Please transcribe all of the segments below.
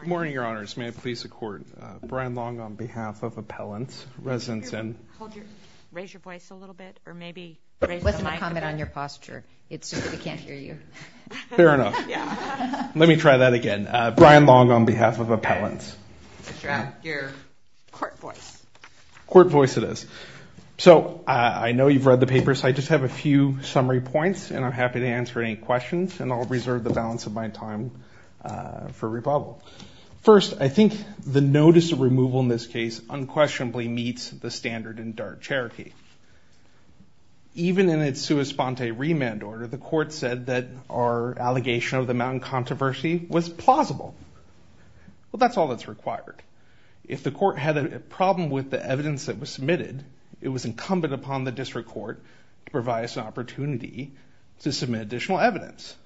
Good morning, Your Honors. May I please support Brian Long on behalf of Appellants, Residence Inn. Raise your voice a little bit, or maybe raise the mic a bit. It wasn't a comment on your posture. It's just that we can't hear you. Fair enough. Let me try that again. Brian Long on behalf of Appellants. You should have your court voice. Court voice it is. So I know you've read the papers. I just have a few summary points, and I'm happy to answer any questions, and I'll reserve the balance of my time for rebuttal. First, I think the notice of removal in this case unquestionably meets the standard in DART Cherokee. Even in its sua sponte remand order, the court said that our allegation of the mountain controversy was plausible. Well, that's all that's required. If the court had a problem with the evidence that was submitted, it was incumbent upon the district court to provide us an opportunity to submit additional evidence.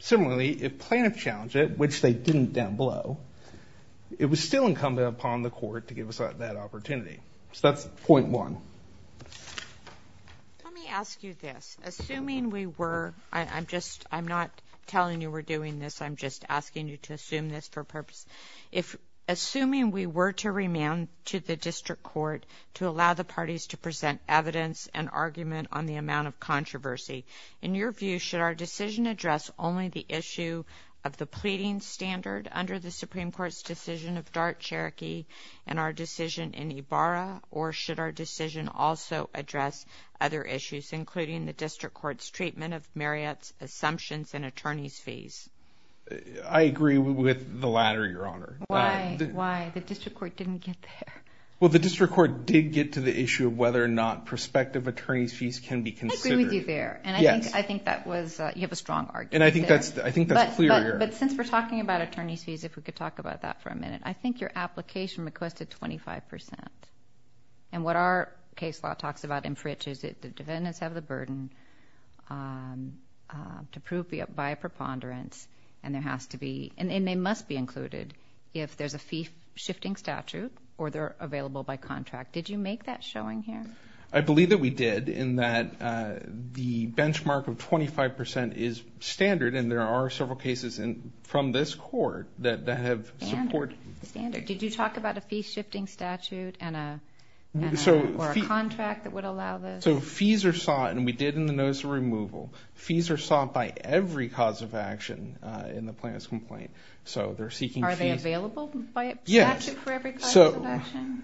Similarly, if plaintiffs challenged it, which they didn't down below, it was still incumbent upon the court to give us that opportunity. So that's point one. Let me ask you this. Assuming we were, I'm just, I'm not telling you we're doing this. I'm just asking you to assume this for purpose. Assuming we were to remand to the district court to allow the parties to present evidence and argument on the amount of controversy, in your view, should our decision address only the issue of the pleading standard under the Supreme Court's decision of DART Cherokee and our decision in Ibarra, or should our decision also address other issues, including the district court's treatment of Marriott's assumptions and attorney's fees? I agree with the latter, Your Honor. Why? Why? The district court didn't get there. Well, the district court did get to the issue of whether or not prospective attorney's fees can be considered. I agree with you there. And I think that was, you have a strong argument there. And I think that's clear here. But since we're talking about attorney's fees, if we could talk about that for a minute. I think your application requested 25%. And what our case law talks about in Fritch is that the defendants have the burden to prove by a preponderance, and there has to be, and they must be included if there's a fee-shifting statute or they're available by contract. Did you make that showing here? I believe that we did, in that the benchmark of 25% is standard, and there are several cases from this court that have support. Standard. Did you talk about a fee-shifting statute or a contract that would allow this? So fees are sought, and we did in the notice of removal. Fees are sought by every cause of action in the plaintiff's complaint. So they're seeking fees. Are they available by statute for every cause of action?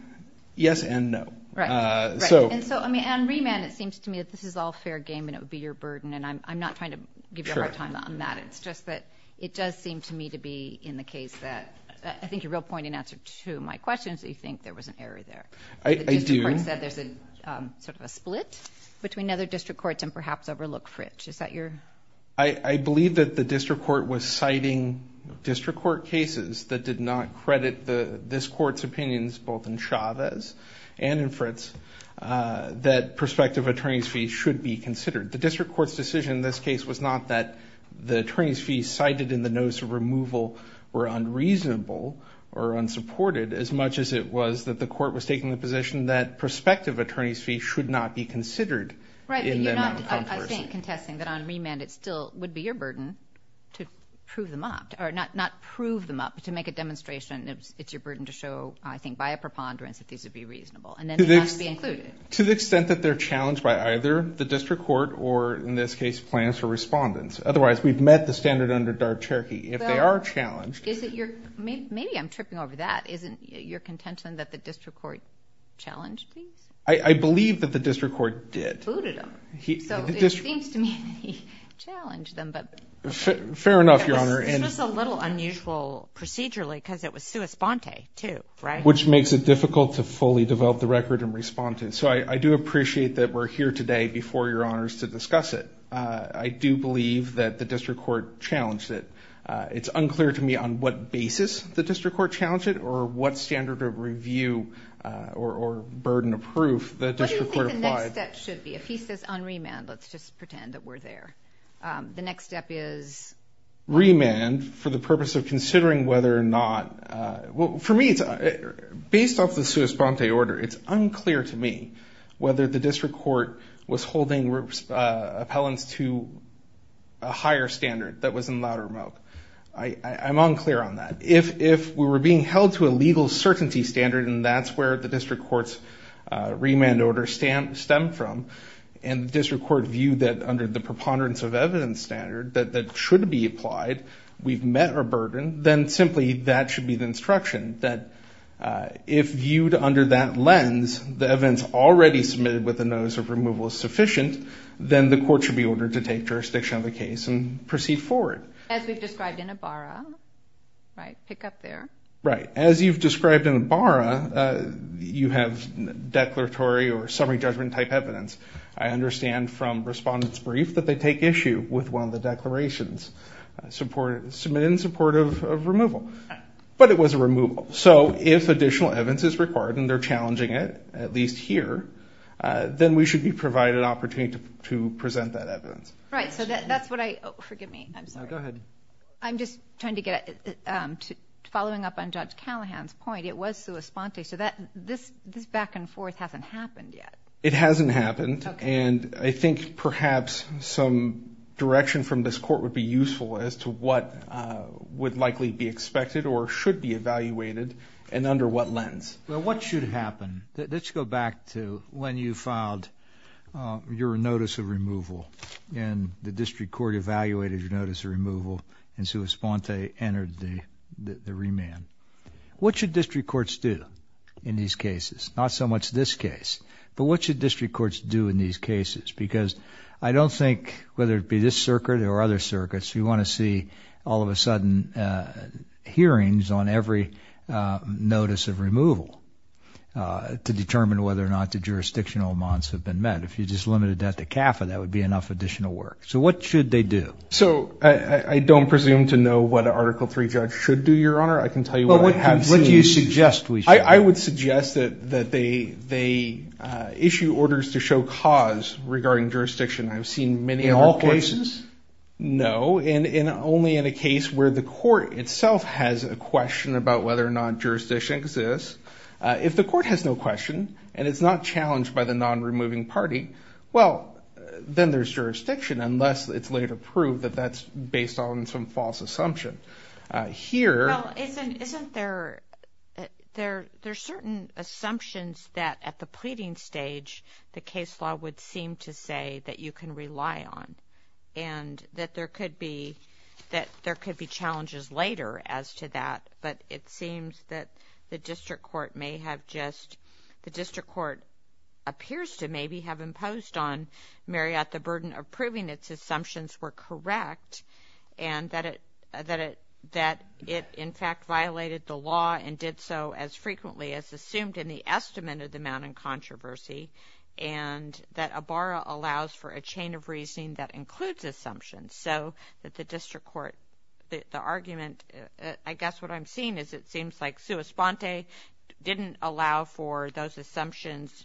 Yes and no. Right. And so on remand, it seems to me that this is all fair game and it would be your burden. And I'm not trying to give you a hard time on that. It's just that it does seem to me to be in the case that, I think your real point in answer to my question is that you think there was an error there. I do. The district court said there's a sort of a split between other district courts and perhaps overlook Fritch. Is that your? I believe that the district court was citing district court cases that did not credit this court's opinions, both in Chavez and in Fritch, that prospective attorney's fees should be considered. The district court's decision in this case was not that the attorney's fees cited in the notice of removal were unreasonable or unsupported, as much as it was that the court was taking the position that prospective attorney's fees should not be considered. Right, but you're not, I think, contesting that on remand it still would be your burden to prove them up, or not prove them up, but to make a demonstration that it's your burden to show, I think, by a preponderance that these would be reasonable. And then they must be included. To the extent that they're challenged by either the district court or, in this case, plans for respondents. Otherwise, we've met the standard under DART-Cherokee. If they are challenged. Maybe I'm tripping over that. Isn't your contention that the district court challenged these? I believe that the district court did. Booted them. So it seems to me that he challenged them, but. Fair enough, Your Honor. This was a little unusual procedurally because it was sua sponte, too, right? Which makes it difficult to fully develop the record and respond to it. So I do appreciate that we're here today before Your Honors to discuss it. I do believe that the district court challenged it. It's unclear to me on what basis the district court challenged it or what standard of review or burden of proof the district court applied. What do you think the next step should be? If he says on remand, let's just pretend that we're there. The next step is? Remand for the purpose of considering whether or not. Well, for me, it's based off the sua sponte order. It's unclear to me whether the district court was holding appellants to a higher standard that was in laud remote. I'm unclear on that. If we were being held to a legal certainty standard, and that's where the district court's remand order stemmed from, and the district court viewed that under the preponderance of evidence standard that should be applied, we've met our burden, then simply that should be the instruction, that if viewed under that lens, the evidence already submitted with a notice of removal is sufficient, then the court should be ordered to take jurisdiction of the case and proceed forward. As we've described in Ibarra, right, pick up there. Right. As you've described in Ibarra, you have declaratory or summary judgment type evidence. I understand from Respondent's Brief that they take issue with one of the declarations. It's submitted in support of removal. But it was a removal. So if additional evidence is required and they're challenging it, at least here, then we should be provided an opportunity to present that evidence. Right. So that's what I – oh, forgive me. I'm sorry. No, go ahead. I'm just trying to get – following up on Judge Callahan's point, it was sua sponte. So this back and forth hasn't happened yet. It hasn't happened. And I think perhaps some direction from this court would be useful as to what would likely be expected or should be evaluated and under what lens. Well, what should happen? Let's go back to when you filed your notice of removal and the district court evaluated your notice of removal and sua sponte entered the remand. What should district courts do in these cases? Not so much this case. But what should district courts do in these cases? Because I don't think, whether it be this circuit or other circuits, you want to see all of a sudden hearings on every notice of removal to determine whether or not the jurisdictional amounts have been met. If you just limited that to CAFA, that would be enough additional work. So what should they do? So I don't presume to know what an Article III judge should do, Your Honor. I can tell you what I have seen. What do you suggest we should do? I would suggest that they issue orders to show cause regarding jurisdiction. I've seen many other cases. In all cases? No, and only in a case where the court itself has a question about whether or not jurisdiction exists. If the court has no question and it's not challenged by the non-removing party, well, then there's jurisdiction unless it's later proved that that's based on some false assumption. Well, isn't there certain assumptions that, at the pleading stage, the case law would seem to say that you can rely on and that there could be challenges later as to that, but it seems that the district court may have just, the district court appears to maybe have imposed on Marriott the burden of proving its assumptions were correct and that it, in fact, violated the law and did so as frequently as assumed in the estimate of the amount in controversy and that a barra allows for a chain of reasoning that includes assumptions. So that the district court, the argument, I guess what I'm seeing is it seems like sua sponte didn't allow for those assumptions,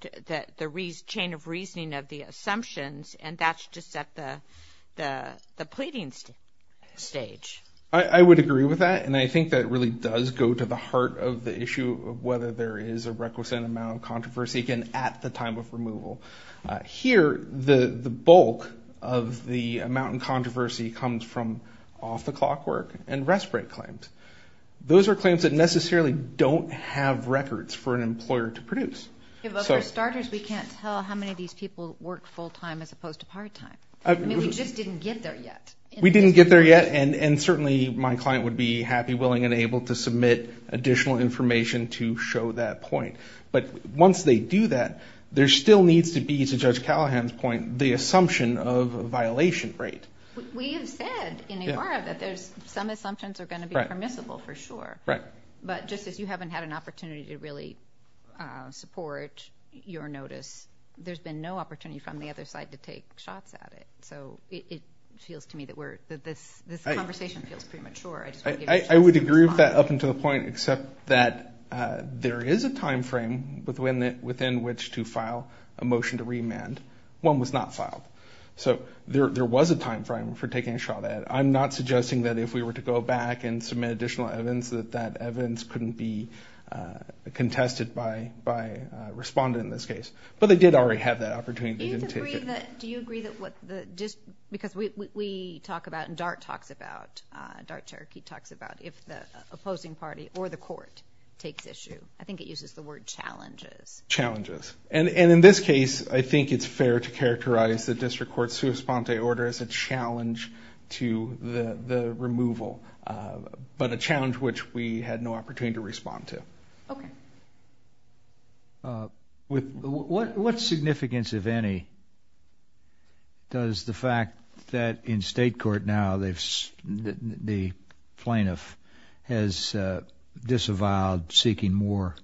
the chain of reasoning of the assumptions, and that's just at the pleading stage. I would agree with that, and I think that really does go to the heart of the issue of whether there is a requisite amount of controversy, again, at the time of removal. Here, the bulk of the amount in controversy comes from off-the-clock work and rest-break claims. Those are claims that necessarily don't have records for an employer to produce. For starters, we can't tell how many of these people work full-time as opposed to part-time. I mean, we just didn't get there yet. We didn't get there yet, and certainly my client would be happy, willing, and able to submit additional information to show that point. But once they do that, there still needs to be, to Judge Callahan's point, the assumption of a violation rate. We have said in a barra that some assumptions are going to be permissible for sure. Right. But just as you haven't had an opportunity to really support your notice, there's been no opportunity from the other side to take shots at it. So it feels to me that this conversation feels premature. I would agree with that up until the point, except that there is a time frame within which to file a motion to remand. One was not filed. So there was a time frame for taking a shot at it. I'm not suggesting that if we were to go back and submit additional evidence, that that evidence couldn't be contested by a respondent in this case. But they did already have that opportunity. Do you agree that what the – because we talk about and DART talks about, DART Cherokee talks about if the opposing party or the court takes issue. I think it uses the word challenges. Challenges. And in this case, I think it's fair to characterize the district court's sua sponte order as a challenge to the removal, but a challenge which we had no opportunity to respond to. Okay. What significance, if any, does the fact that in state court now the plaintiff has disavowed seeking more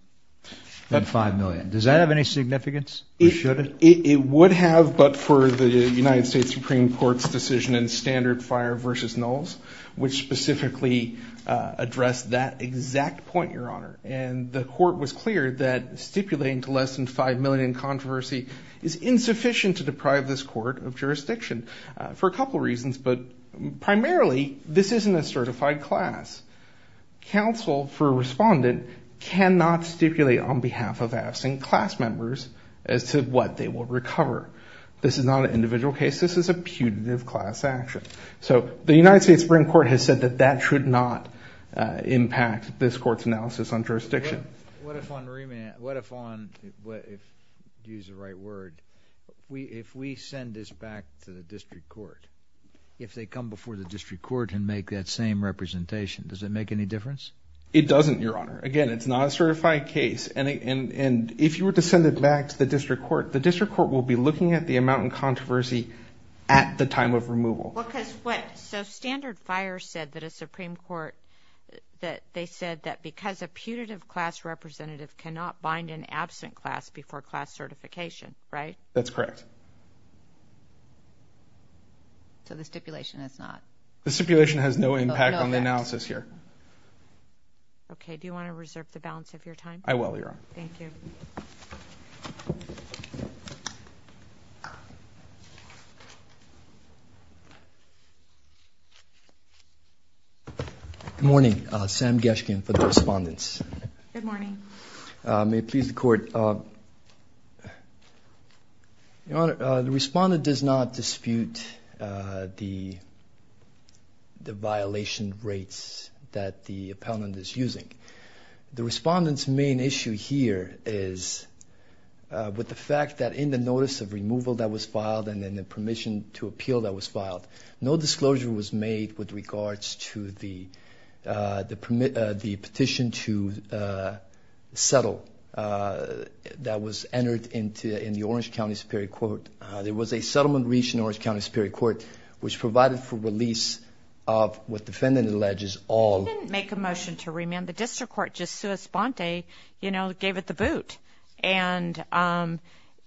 than $5 million, does that have any significance or should it? It would have, but for the United States Supreme Court's decision in standard fire versus nulls, which specifically addressed that exact point, Your Honor, and the court was clear that stipulating to less than $5 million in controversy is insufficient to deprive this court of jurisdiction for a couple reasons, but primarily this isn't a certified class. Counsel for a respondent cannot stipulate on behalf of absent class members as to what they will recover. This is not an individual case. This is a putative class action. So the United States Supreme Court has said that that should not impact this court's analysis on jurisdiction. What if on remand, what if on, if you use the right word, if we send this back to the district court, if they come before the district court and make that same representation, does it make any difference? It doesn't, Your Honor. Again, it's not a certified case, and if you were to send it back to the district court, the district court will be looking at the amount in controversy at the time of removal. Because what, so standard fire said that a Supreme Court, that they said that because a putative class representative cannot bind an absent class before class certification, right? That's correct. So the stipulation is not? The stipulation has no impact on the analysis here. Okay. Do you want to reserve the balance of your time? I will, Your Honor. Thank you. Good morning. Sam Geshkin for the respondents. Good morning. May it please the court. Your Honor, the respondent does not dispute the violation rates that the appellant is using. The respondent's main issue here is with the fact that in the notice of removal that was filed and then the permission to appeal that was filed, no disclosure was made with regards to the petition to settle that was entered in the Orange County Superior Court. There was a settlement reached in Orange County Superior Court which provided for release of what the defendant alleges all. He didn't make a motion to remand. The district court just sua sponte, you know, gave it the boot. And,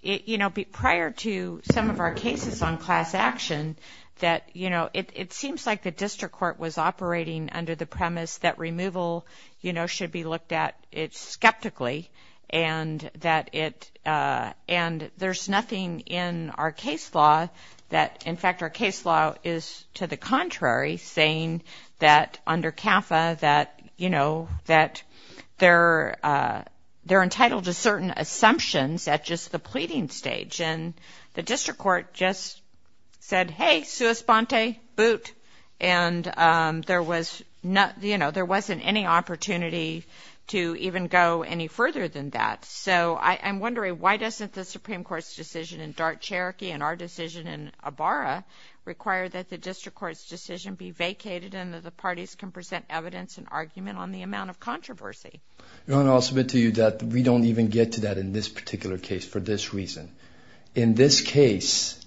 you know, prior to some of our cases on class action that, you know, it seems like the district court was operating under the premise that removal, you know, should be looked at skeptically and that it, and there's nothing in our case law that, in fact, our case law is to the contrary saying that under CAFA that, you know, that they're entitled to certain assumptions at just the pleading stage. And the district court just said, hey, sua sponte, boot. And there was, you know, there wasn't any opportunity to even go any further than that. So I'm wondering why doesn't the Supreme Court's decision in Dart, Cherokee, and our decision in Ibarra require that the district court's decision be vacated and that the parties can present evidence and argument on the amount of controversy? Your Honor, I'll submit to you that we don't even get to that in this particular case for this reason. In this case,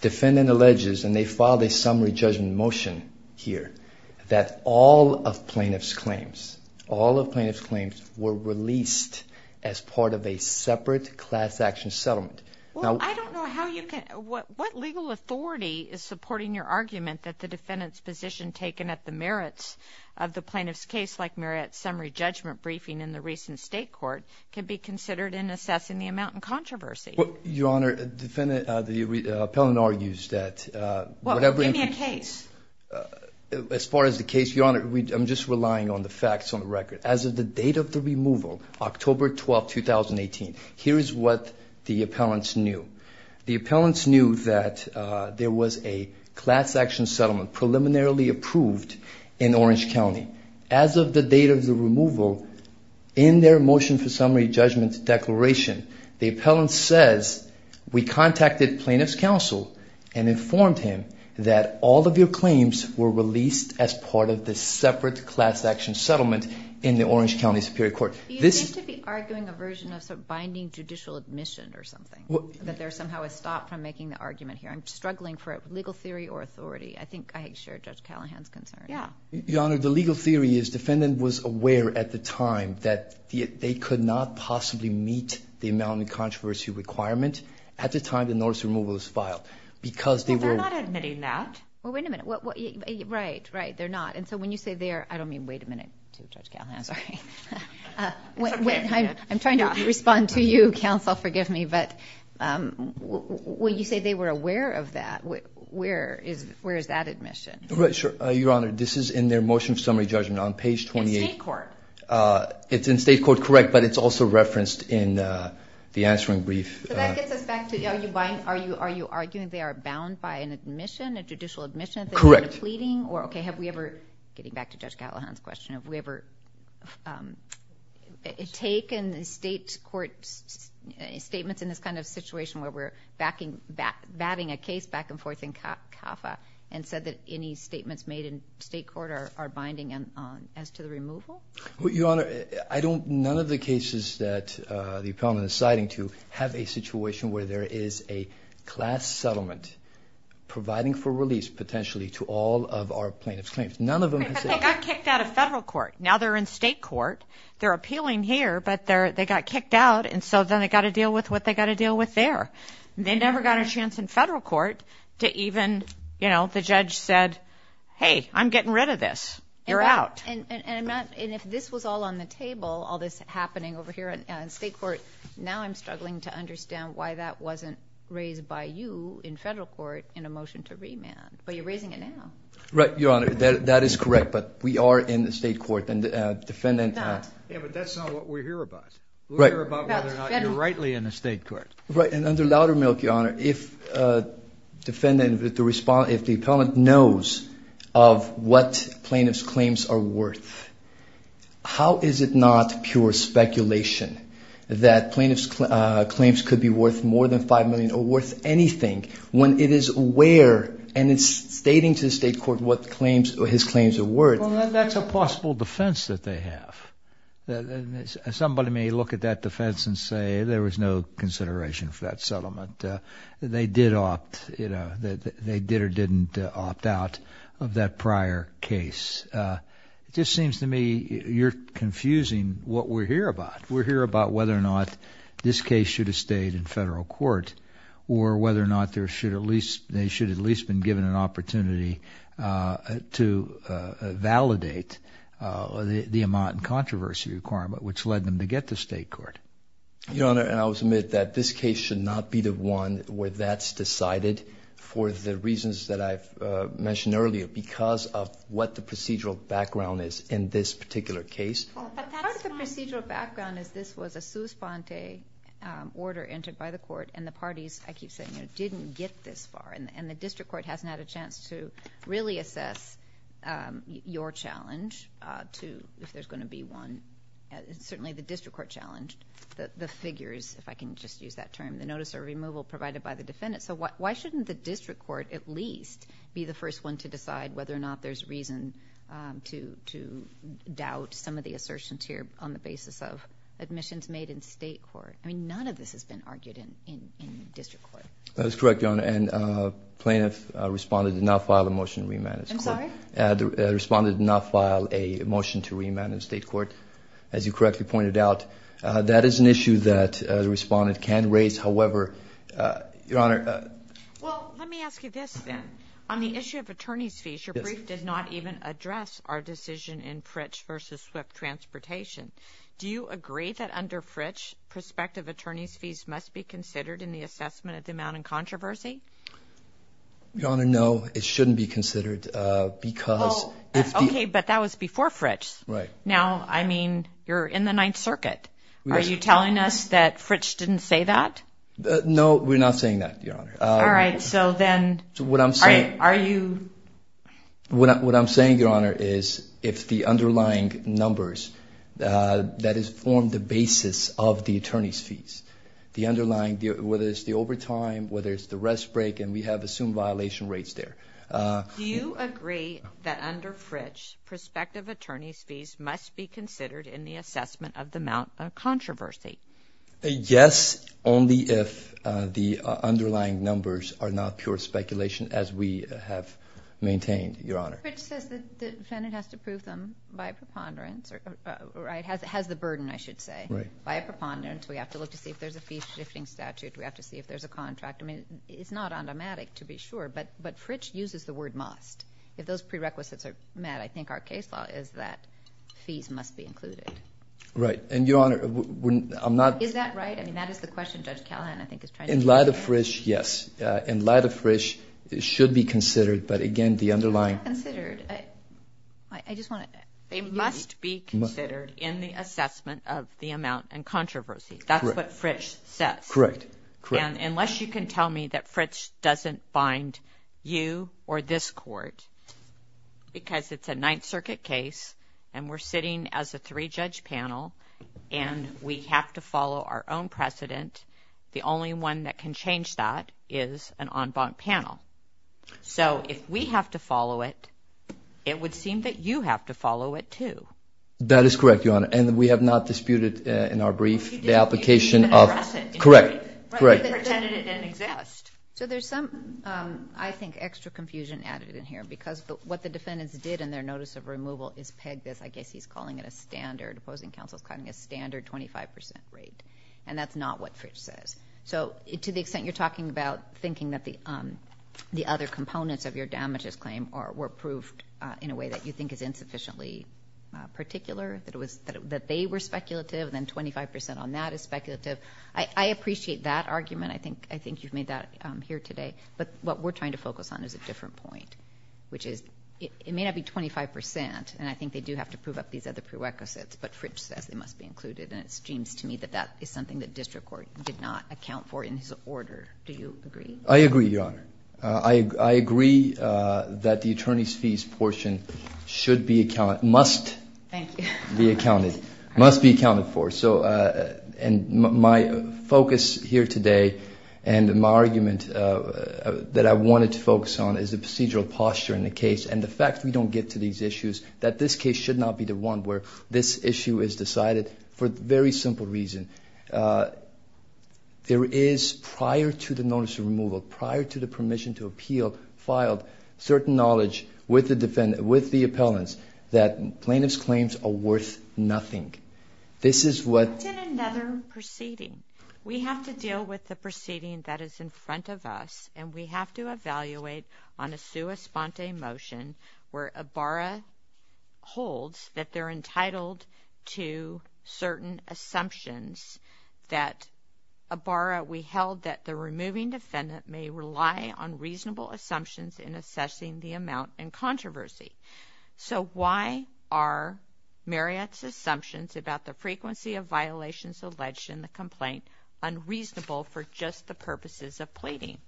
defendant alleges, and they filed a summary judgment motion here, that all of plaintiff's claims, all of plaintiff's claims were released as part of a separate class action settlement. Well, I don't know how you can, what legal authority is supporting your argument that the defendant's position taken at the merits of the plaintiff's case, like merit summary judgment briefing in the recent state court, can be considered in assessing the amount in controversy? Your Honor, defendant, the appellant argues that whatever. Well, give me a case. As far as the case, Your Honor, I'm just relying on the facts on the record. As of the date of the removal, October 12, 2018, here is what the appellants knew. The appellants knew that there was a class action settlement preliminarily approved in Orange County. As of the date of the removal, in their motion for summary judgment declaration, the appellant says, we contacted plaintiff's counsel and informed him that all of your claims were released as part of the separate class action settlement in the Orange County Superior Court. You seem to be arguing a version of binding judicial admission or something. That there's somehow a stop from making the argument here. I'm struggling for legal theory or authority. I think I share Judge Callahan's concern. Your Honor, the legal theory is defendant was aware at the time that they could not possibly meet the amount in controversy requirement at the time the notice of removal was filed. Well, they're not admitting that. Well, wait a minute. Right, right, they're not. And so when you say they are, I don't mean wait a minute to Judge Callahan, sorry. I'm trying to respond to you, counsel, forgive me. But when you say they were aware of that, where is that admission? Your Honor, this is in their motion of summary judgment on page 28. In state court. It's in state court, correct, but it's also referenced in the answering brief. So that gets us back to are you arguing they are bound by an admission, a judicial admission that they were pleading? Correct. Okay, have we ever, getting back to Judge Callahan's question, have we ever taken state court statements in this kind of situation where we're batting a case back and forth in CAFA and said that any statements made in state court are binding as to the removal? Your Honor, I don't, none of the cases that the appellant is citing to have a situation where there is a class settlement providing for release potentially to all of our plaintiff's claims. None of them have said that. Because they got kicked out of federal court. Now they're in state court. They're appealing here, but they got kicked out, and so then they've got to deal with what they've got to deal with there. They never got a chance in federal court to even, you know, the judge said, hey, I'm getting rid of this. You're out. And if this was all on the table, all this happening over here in state court, now I'm struggling to understand why that wasn't raised by you in federal court in a motion to remand. But you're raising it now. Right, Your Honor. That is correct, but we are in the state court. Yeah, but that's not what we hear about. We hear about whether or not you're rightly in the state court. Right, and under Loudermilk, Your Honor, if defendant, if the appellant knows of what plaintiff's claims are worth, how is it not pure speculation that plaintiff's claims could be worth more than $5 million or worth anything when it is aware and it's stating to the state court what his claims are worth? Well, that's a possible defense that they have. Somebody may look at that defense and say there was no consideration for that settlement. They did opt, you know, they did or didn't opt out of that prior case. It just seems to me you're confusing what we hear about. We hear about whether or not this case should have stayed in federal court or whether or not they should have at least been given an opportunity to validate the amount and controversy requirement which led them to get to state court. Your Honor, I will submit that this case should not be the one where that's decided for the reasons that I've mentioned earlier because of what the procedural background is in this particular case. Part of the procedural background is this was a sous-pente order entered by the court and the parties, I keep saying, didn't get this far and the district court hasn't had a chance to really assess your challenge to if there's going to be one. Certainly the district court challenged the figures, if I can just use that term, the notice of removal provided by the defendant. So why shouldn't the district court at least be the first one to decide whether or not there's reason to doubt some of the assertions here on the basis of admissions made in state court? I mean, none of this has been argued in district court. That is correct, Your Honor. And plaintiff responded to not file a motion to remand in state court. I'm sorry? Responded to not file a motion to remand in state court. As you correctly pointed out, that is an issue that the respondent can raise. However, Your Honor. Well, let me ask you this then. On the issue of attorney's fees, your brief did not even address our decision in Fritch v. Swift Transportation. Do you agree that under Fritch, prospective attorney's fees must be considered in the assessment of the amount in controversy? Your Honor, no, it shouldn't be considered because if the- Okay, but that was before Fritch. Right. Now, I mean, you're in the Ninth Circuit. Are you telling us that Fritch didn't say that? No, we're not saying that, Your Honor. All right, so then- So what I'm saying- Are you- What I'm saying, Your Honor, is if the underlying numbers that form the basis of the attorney's fees, the underlying, whether it's the overtime, whether it's the rest break, and we have assumed violation rates there- Do you agree that under Fritch, prospective attorney's fees must be considered in the assessment of the amount in controversy? Yes, only if the underlying numbers are not pure speculation as we have maintained, Your Honor. Fritch says the defendant has to prove them by a preponderance, or has the burden, I should say. Right. By a preponderance, we have to look to see if there's a fee-shifting statute. We have to see if there's a contract. I mean, it's not automatic, to be sure, but Fritch uses the word must. If those prerequisites are met, I think our case law is that fees must be included. Right. And, Your Honor, I'm not- Is that right? I mean, that is the question Judge Callahan, I think, is trying to- In light of Fritch, yes. In light of Fritch, it should be considered, but again, the underlying- It's not considered. I just want to- It must be considered in the assessment of the amount in controversy. That's what Fritch says. Correct. And unless you can tell me that Fritch doesn't bind you or this court, because it's a Ninth Circuit case, and we're sitting as a three-judge panel, and we have to follow our own precedent, the only one that can change that is an en banc panel. So, if we have to follow it, it would seem that you have to follow it, too. That is correct, Your Honor, and we have not disputed, in our brief, the application of- You didn't even address it. Correct. Correct. You just pretended it didn't exist. So, there's some, I think, extra confusion added in here, because what the defendants did in their notice of removal is peg this. I guess he's calling it a standard. Opposing counsel is calling it a standard 25% rate, and that's not what Fritch says. So, to the extent you're talking about thinking that the other components of your damages claim were proved in a way that you think is insufficiently particular, that they were speculative, then 25% on that is speculative. I appreciate that argument. I think you've made that here today, but what we're trying to focus on is a different point. Which is, it may not be 25%, and I think they do have to prove up these other prerequisites, but Fritch says they must be included, and it seems to me that that is something that district court did not account for in his order. Do you agree? I agree, Your Honor. I agree that the attorney's fees portion should be, must be accounted for. My focus here today and my argument that I wanted to focus on is the procedural posture in the case and the fact we don't get to these issues, that this case should not be the one where this issue is decided for a very simple reason. There is, prior to the notice of removal, prior to the permission to appeal, filed certain knowledge with the appellants that plaintiff's claims are worth nothing. This is what... It's in another proceeding. We have to deal with the proceeding that is in front of us, and we have to evaluate on a sua sponte motion where Ibarra holds that they're entitled to certain assumptions that Ibarra, we held that the removing defendant may rely on reasonable assumptions in assessing the amount and controversy. So why are Marriott's assumptions about the frequency of violations alleged in the complaint unreasonable for just the purposes of pleading?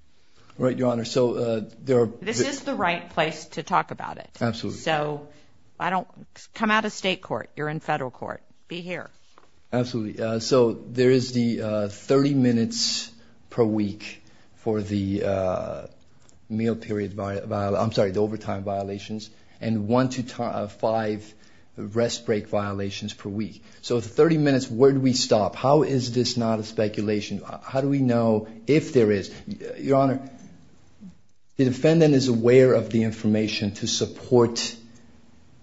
Right, Your Honor. So there are... This is the right place to talk about it. Absolutely. So I don't... Come out of state court. You're in federal court. Be here. Absolutely. So there is the 30 minutes per week for the meal period, I'm sorry, the overtime violations, and one to five rest break violations per week. So the 30 minutes, where do we stop? How is this not a speculation? How do we know if there is... Your Honor, the defendant is aware of the information to support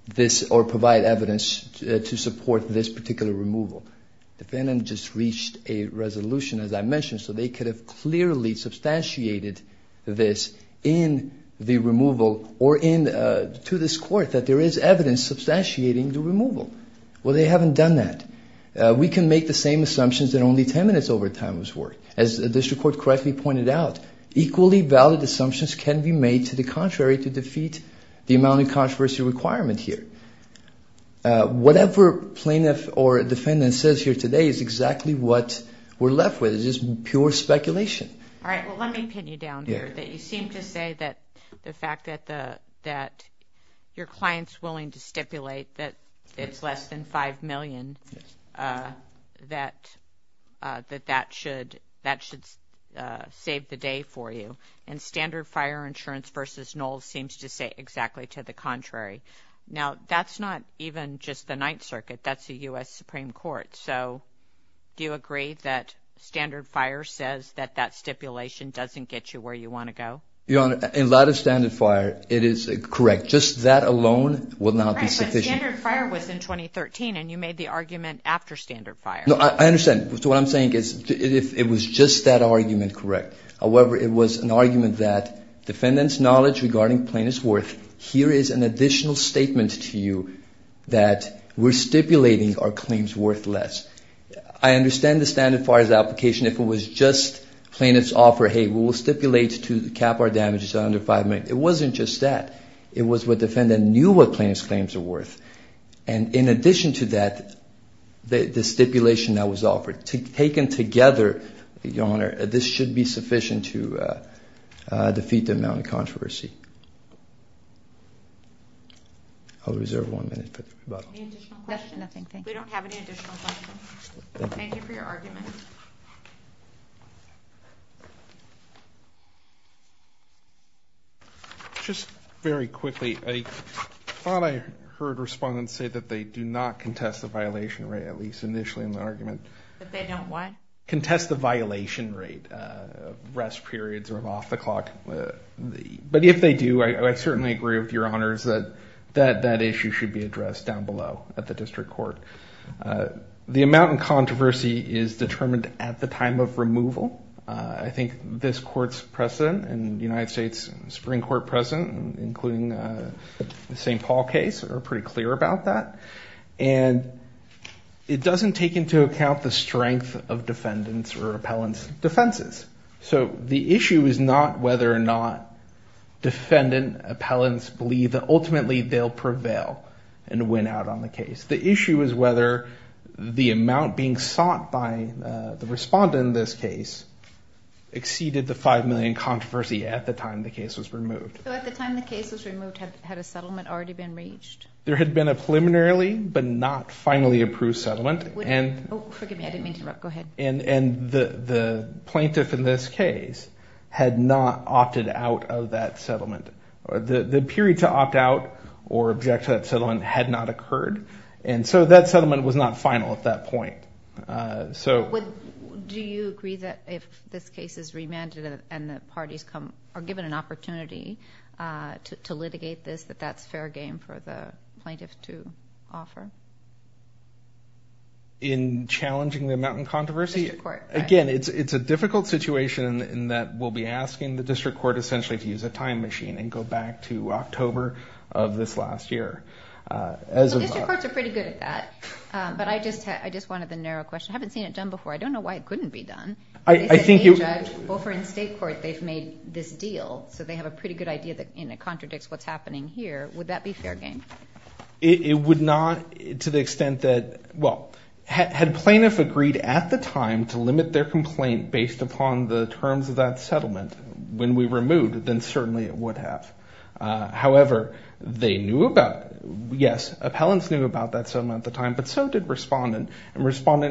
this or provide evidence to support this particular removal. The defendant just reached a resolution, as I mentioned, so they could have clearly substantiated this in the removal or to this court that there is evidence substantiating the removal. Well, they haven't done that. We can make the same assumptions that only 10 minutes overtime was worth. As the district court correctly pointed out, equally valid assumptions can be made to the contrary to defeat the amount of controversy requirement here. Whatever plaintiff or defendant says here today is exactly what we're left with. It's just pure speculation. All right. Well, let me pin you down here that you seem to say that the fact that your client's willing to stipulate that it's less than $5 million, that that should save the day for you. And Standard Fire Insurance v. Knoll seems to say exactly to the contrary. Now, that's not even just the Ninth Circuit. That's the U.S. Supreme Court. So do you agree that Standard Fire says that that stipulation doesn't get you where you want to go? Your Honor, in light of Standard Fire, it is correct. Just that alone will not be sufficient. Right, but Standard Fire was in 2013, and you made the argument after Standard Fire. No, I understand. So what I'm saying is it was just that argument correct. However, it was an argument that defendant's knowledge regarding plaintiff's worth, here is an additional statement to you that we're stipulating our claims worth less. I understand the Standard Fire's application. If it was just plaintiff's offer, hey, we'll stipulate to cap our damages under $5 million. It wasn't just that. It was what defendant knew what plaintiff's claims are worth. And in addition to that, the stipulation that was offered, taken together, Your Honor, this should be sufficient to defeat the amount of controversy. I'll reserve one minute for the rebuttal. Any additional questions? We don't have any additional questions. Thank you for your argument. Just very quickly, I thought I heard respondents say that they do not contest the violation rate, at least initially in the argument. That they don't what? Contest the violation rate of rest periods or off the clock. But if they do, I certainly agree with Your Honors that that issue should be addressed down below at the district court. The amount of controversy is determined at the time of removal. I think this court's precedent and the United States Supreme Court precedent, including the St. Paul case, are pretty clear about that. And it doesn't take into account the strength of defendants or appellants' defenses. So the issue is not whether or not defendant appellants believe that ultimately they'll prevail and win out on the case. The issue is whether the amount being sought by the respondent in this case exceeded the $5 million controversy at the time the case was removed. So at the time the case was removed, had a settlement already been reached? There had been a preliminarily but not finally approved settlement. Oh, forgive me. I didn't mean to interrupt. Go ahead. And the plaintiff in this case had not opted out of that settlement. The period to opt out or object to that settlement had not occurred. And so that settlement was not final at that point. Do you agree that if this case is remanded and the parties are given an opportunity to litigate this, that that's fair game for the plaintiff to offer? In challenging the amount in controversy? The district court. Again, it's a difficult situation in that we'll be asking the district court essentially to use a time machine and go back to October of this last year. Well, district courts are pretty good at that. But I just wanted the narrow question. I haven't seen it done before. I don't know why it couldn't be done. They said, hey, Judge, over in state court they've made this deal. So they have a pretty good idea and it contradicts what's happening here. Would that be fair game? It would not to the extent that, well, had plaintiff agreed at the time to limit their complaint based upon the terms of that settlement, when we removed, then certainly it would have. However, they knew about, yes, appellants knew about that settlement at the time, but so did respondent. So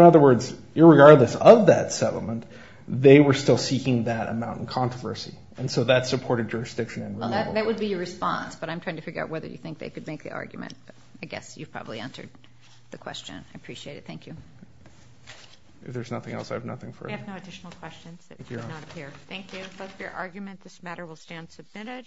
in other words, irregardless of that settlement, they were still seeking that amount in controversy. And so that supported jurisdiction and removal. That would be your response, but I'm trying to figure out whether you think they could make the argument. I guess you've probably answered the question. I appreciate it. Thank you. If there's nothing else, I have nothing for it. We have no additional questions. Thank you. If that's your argument, this matter will stand submitted.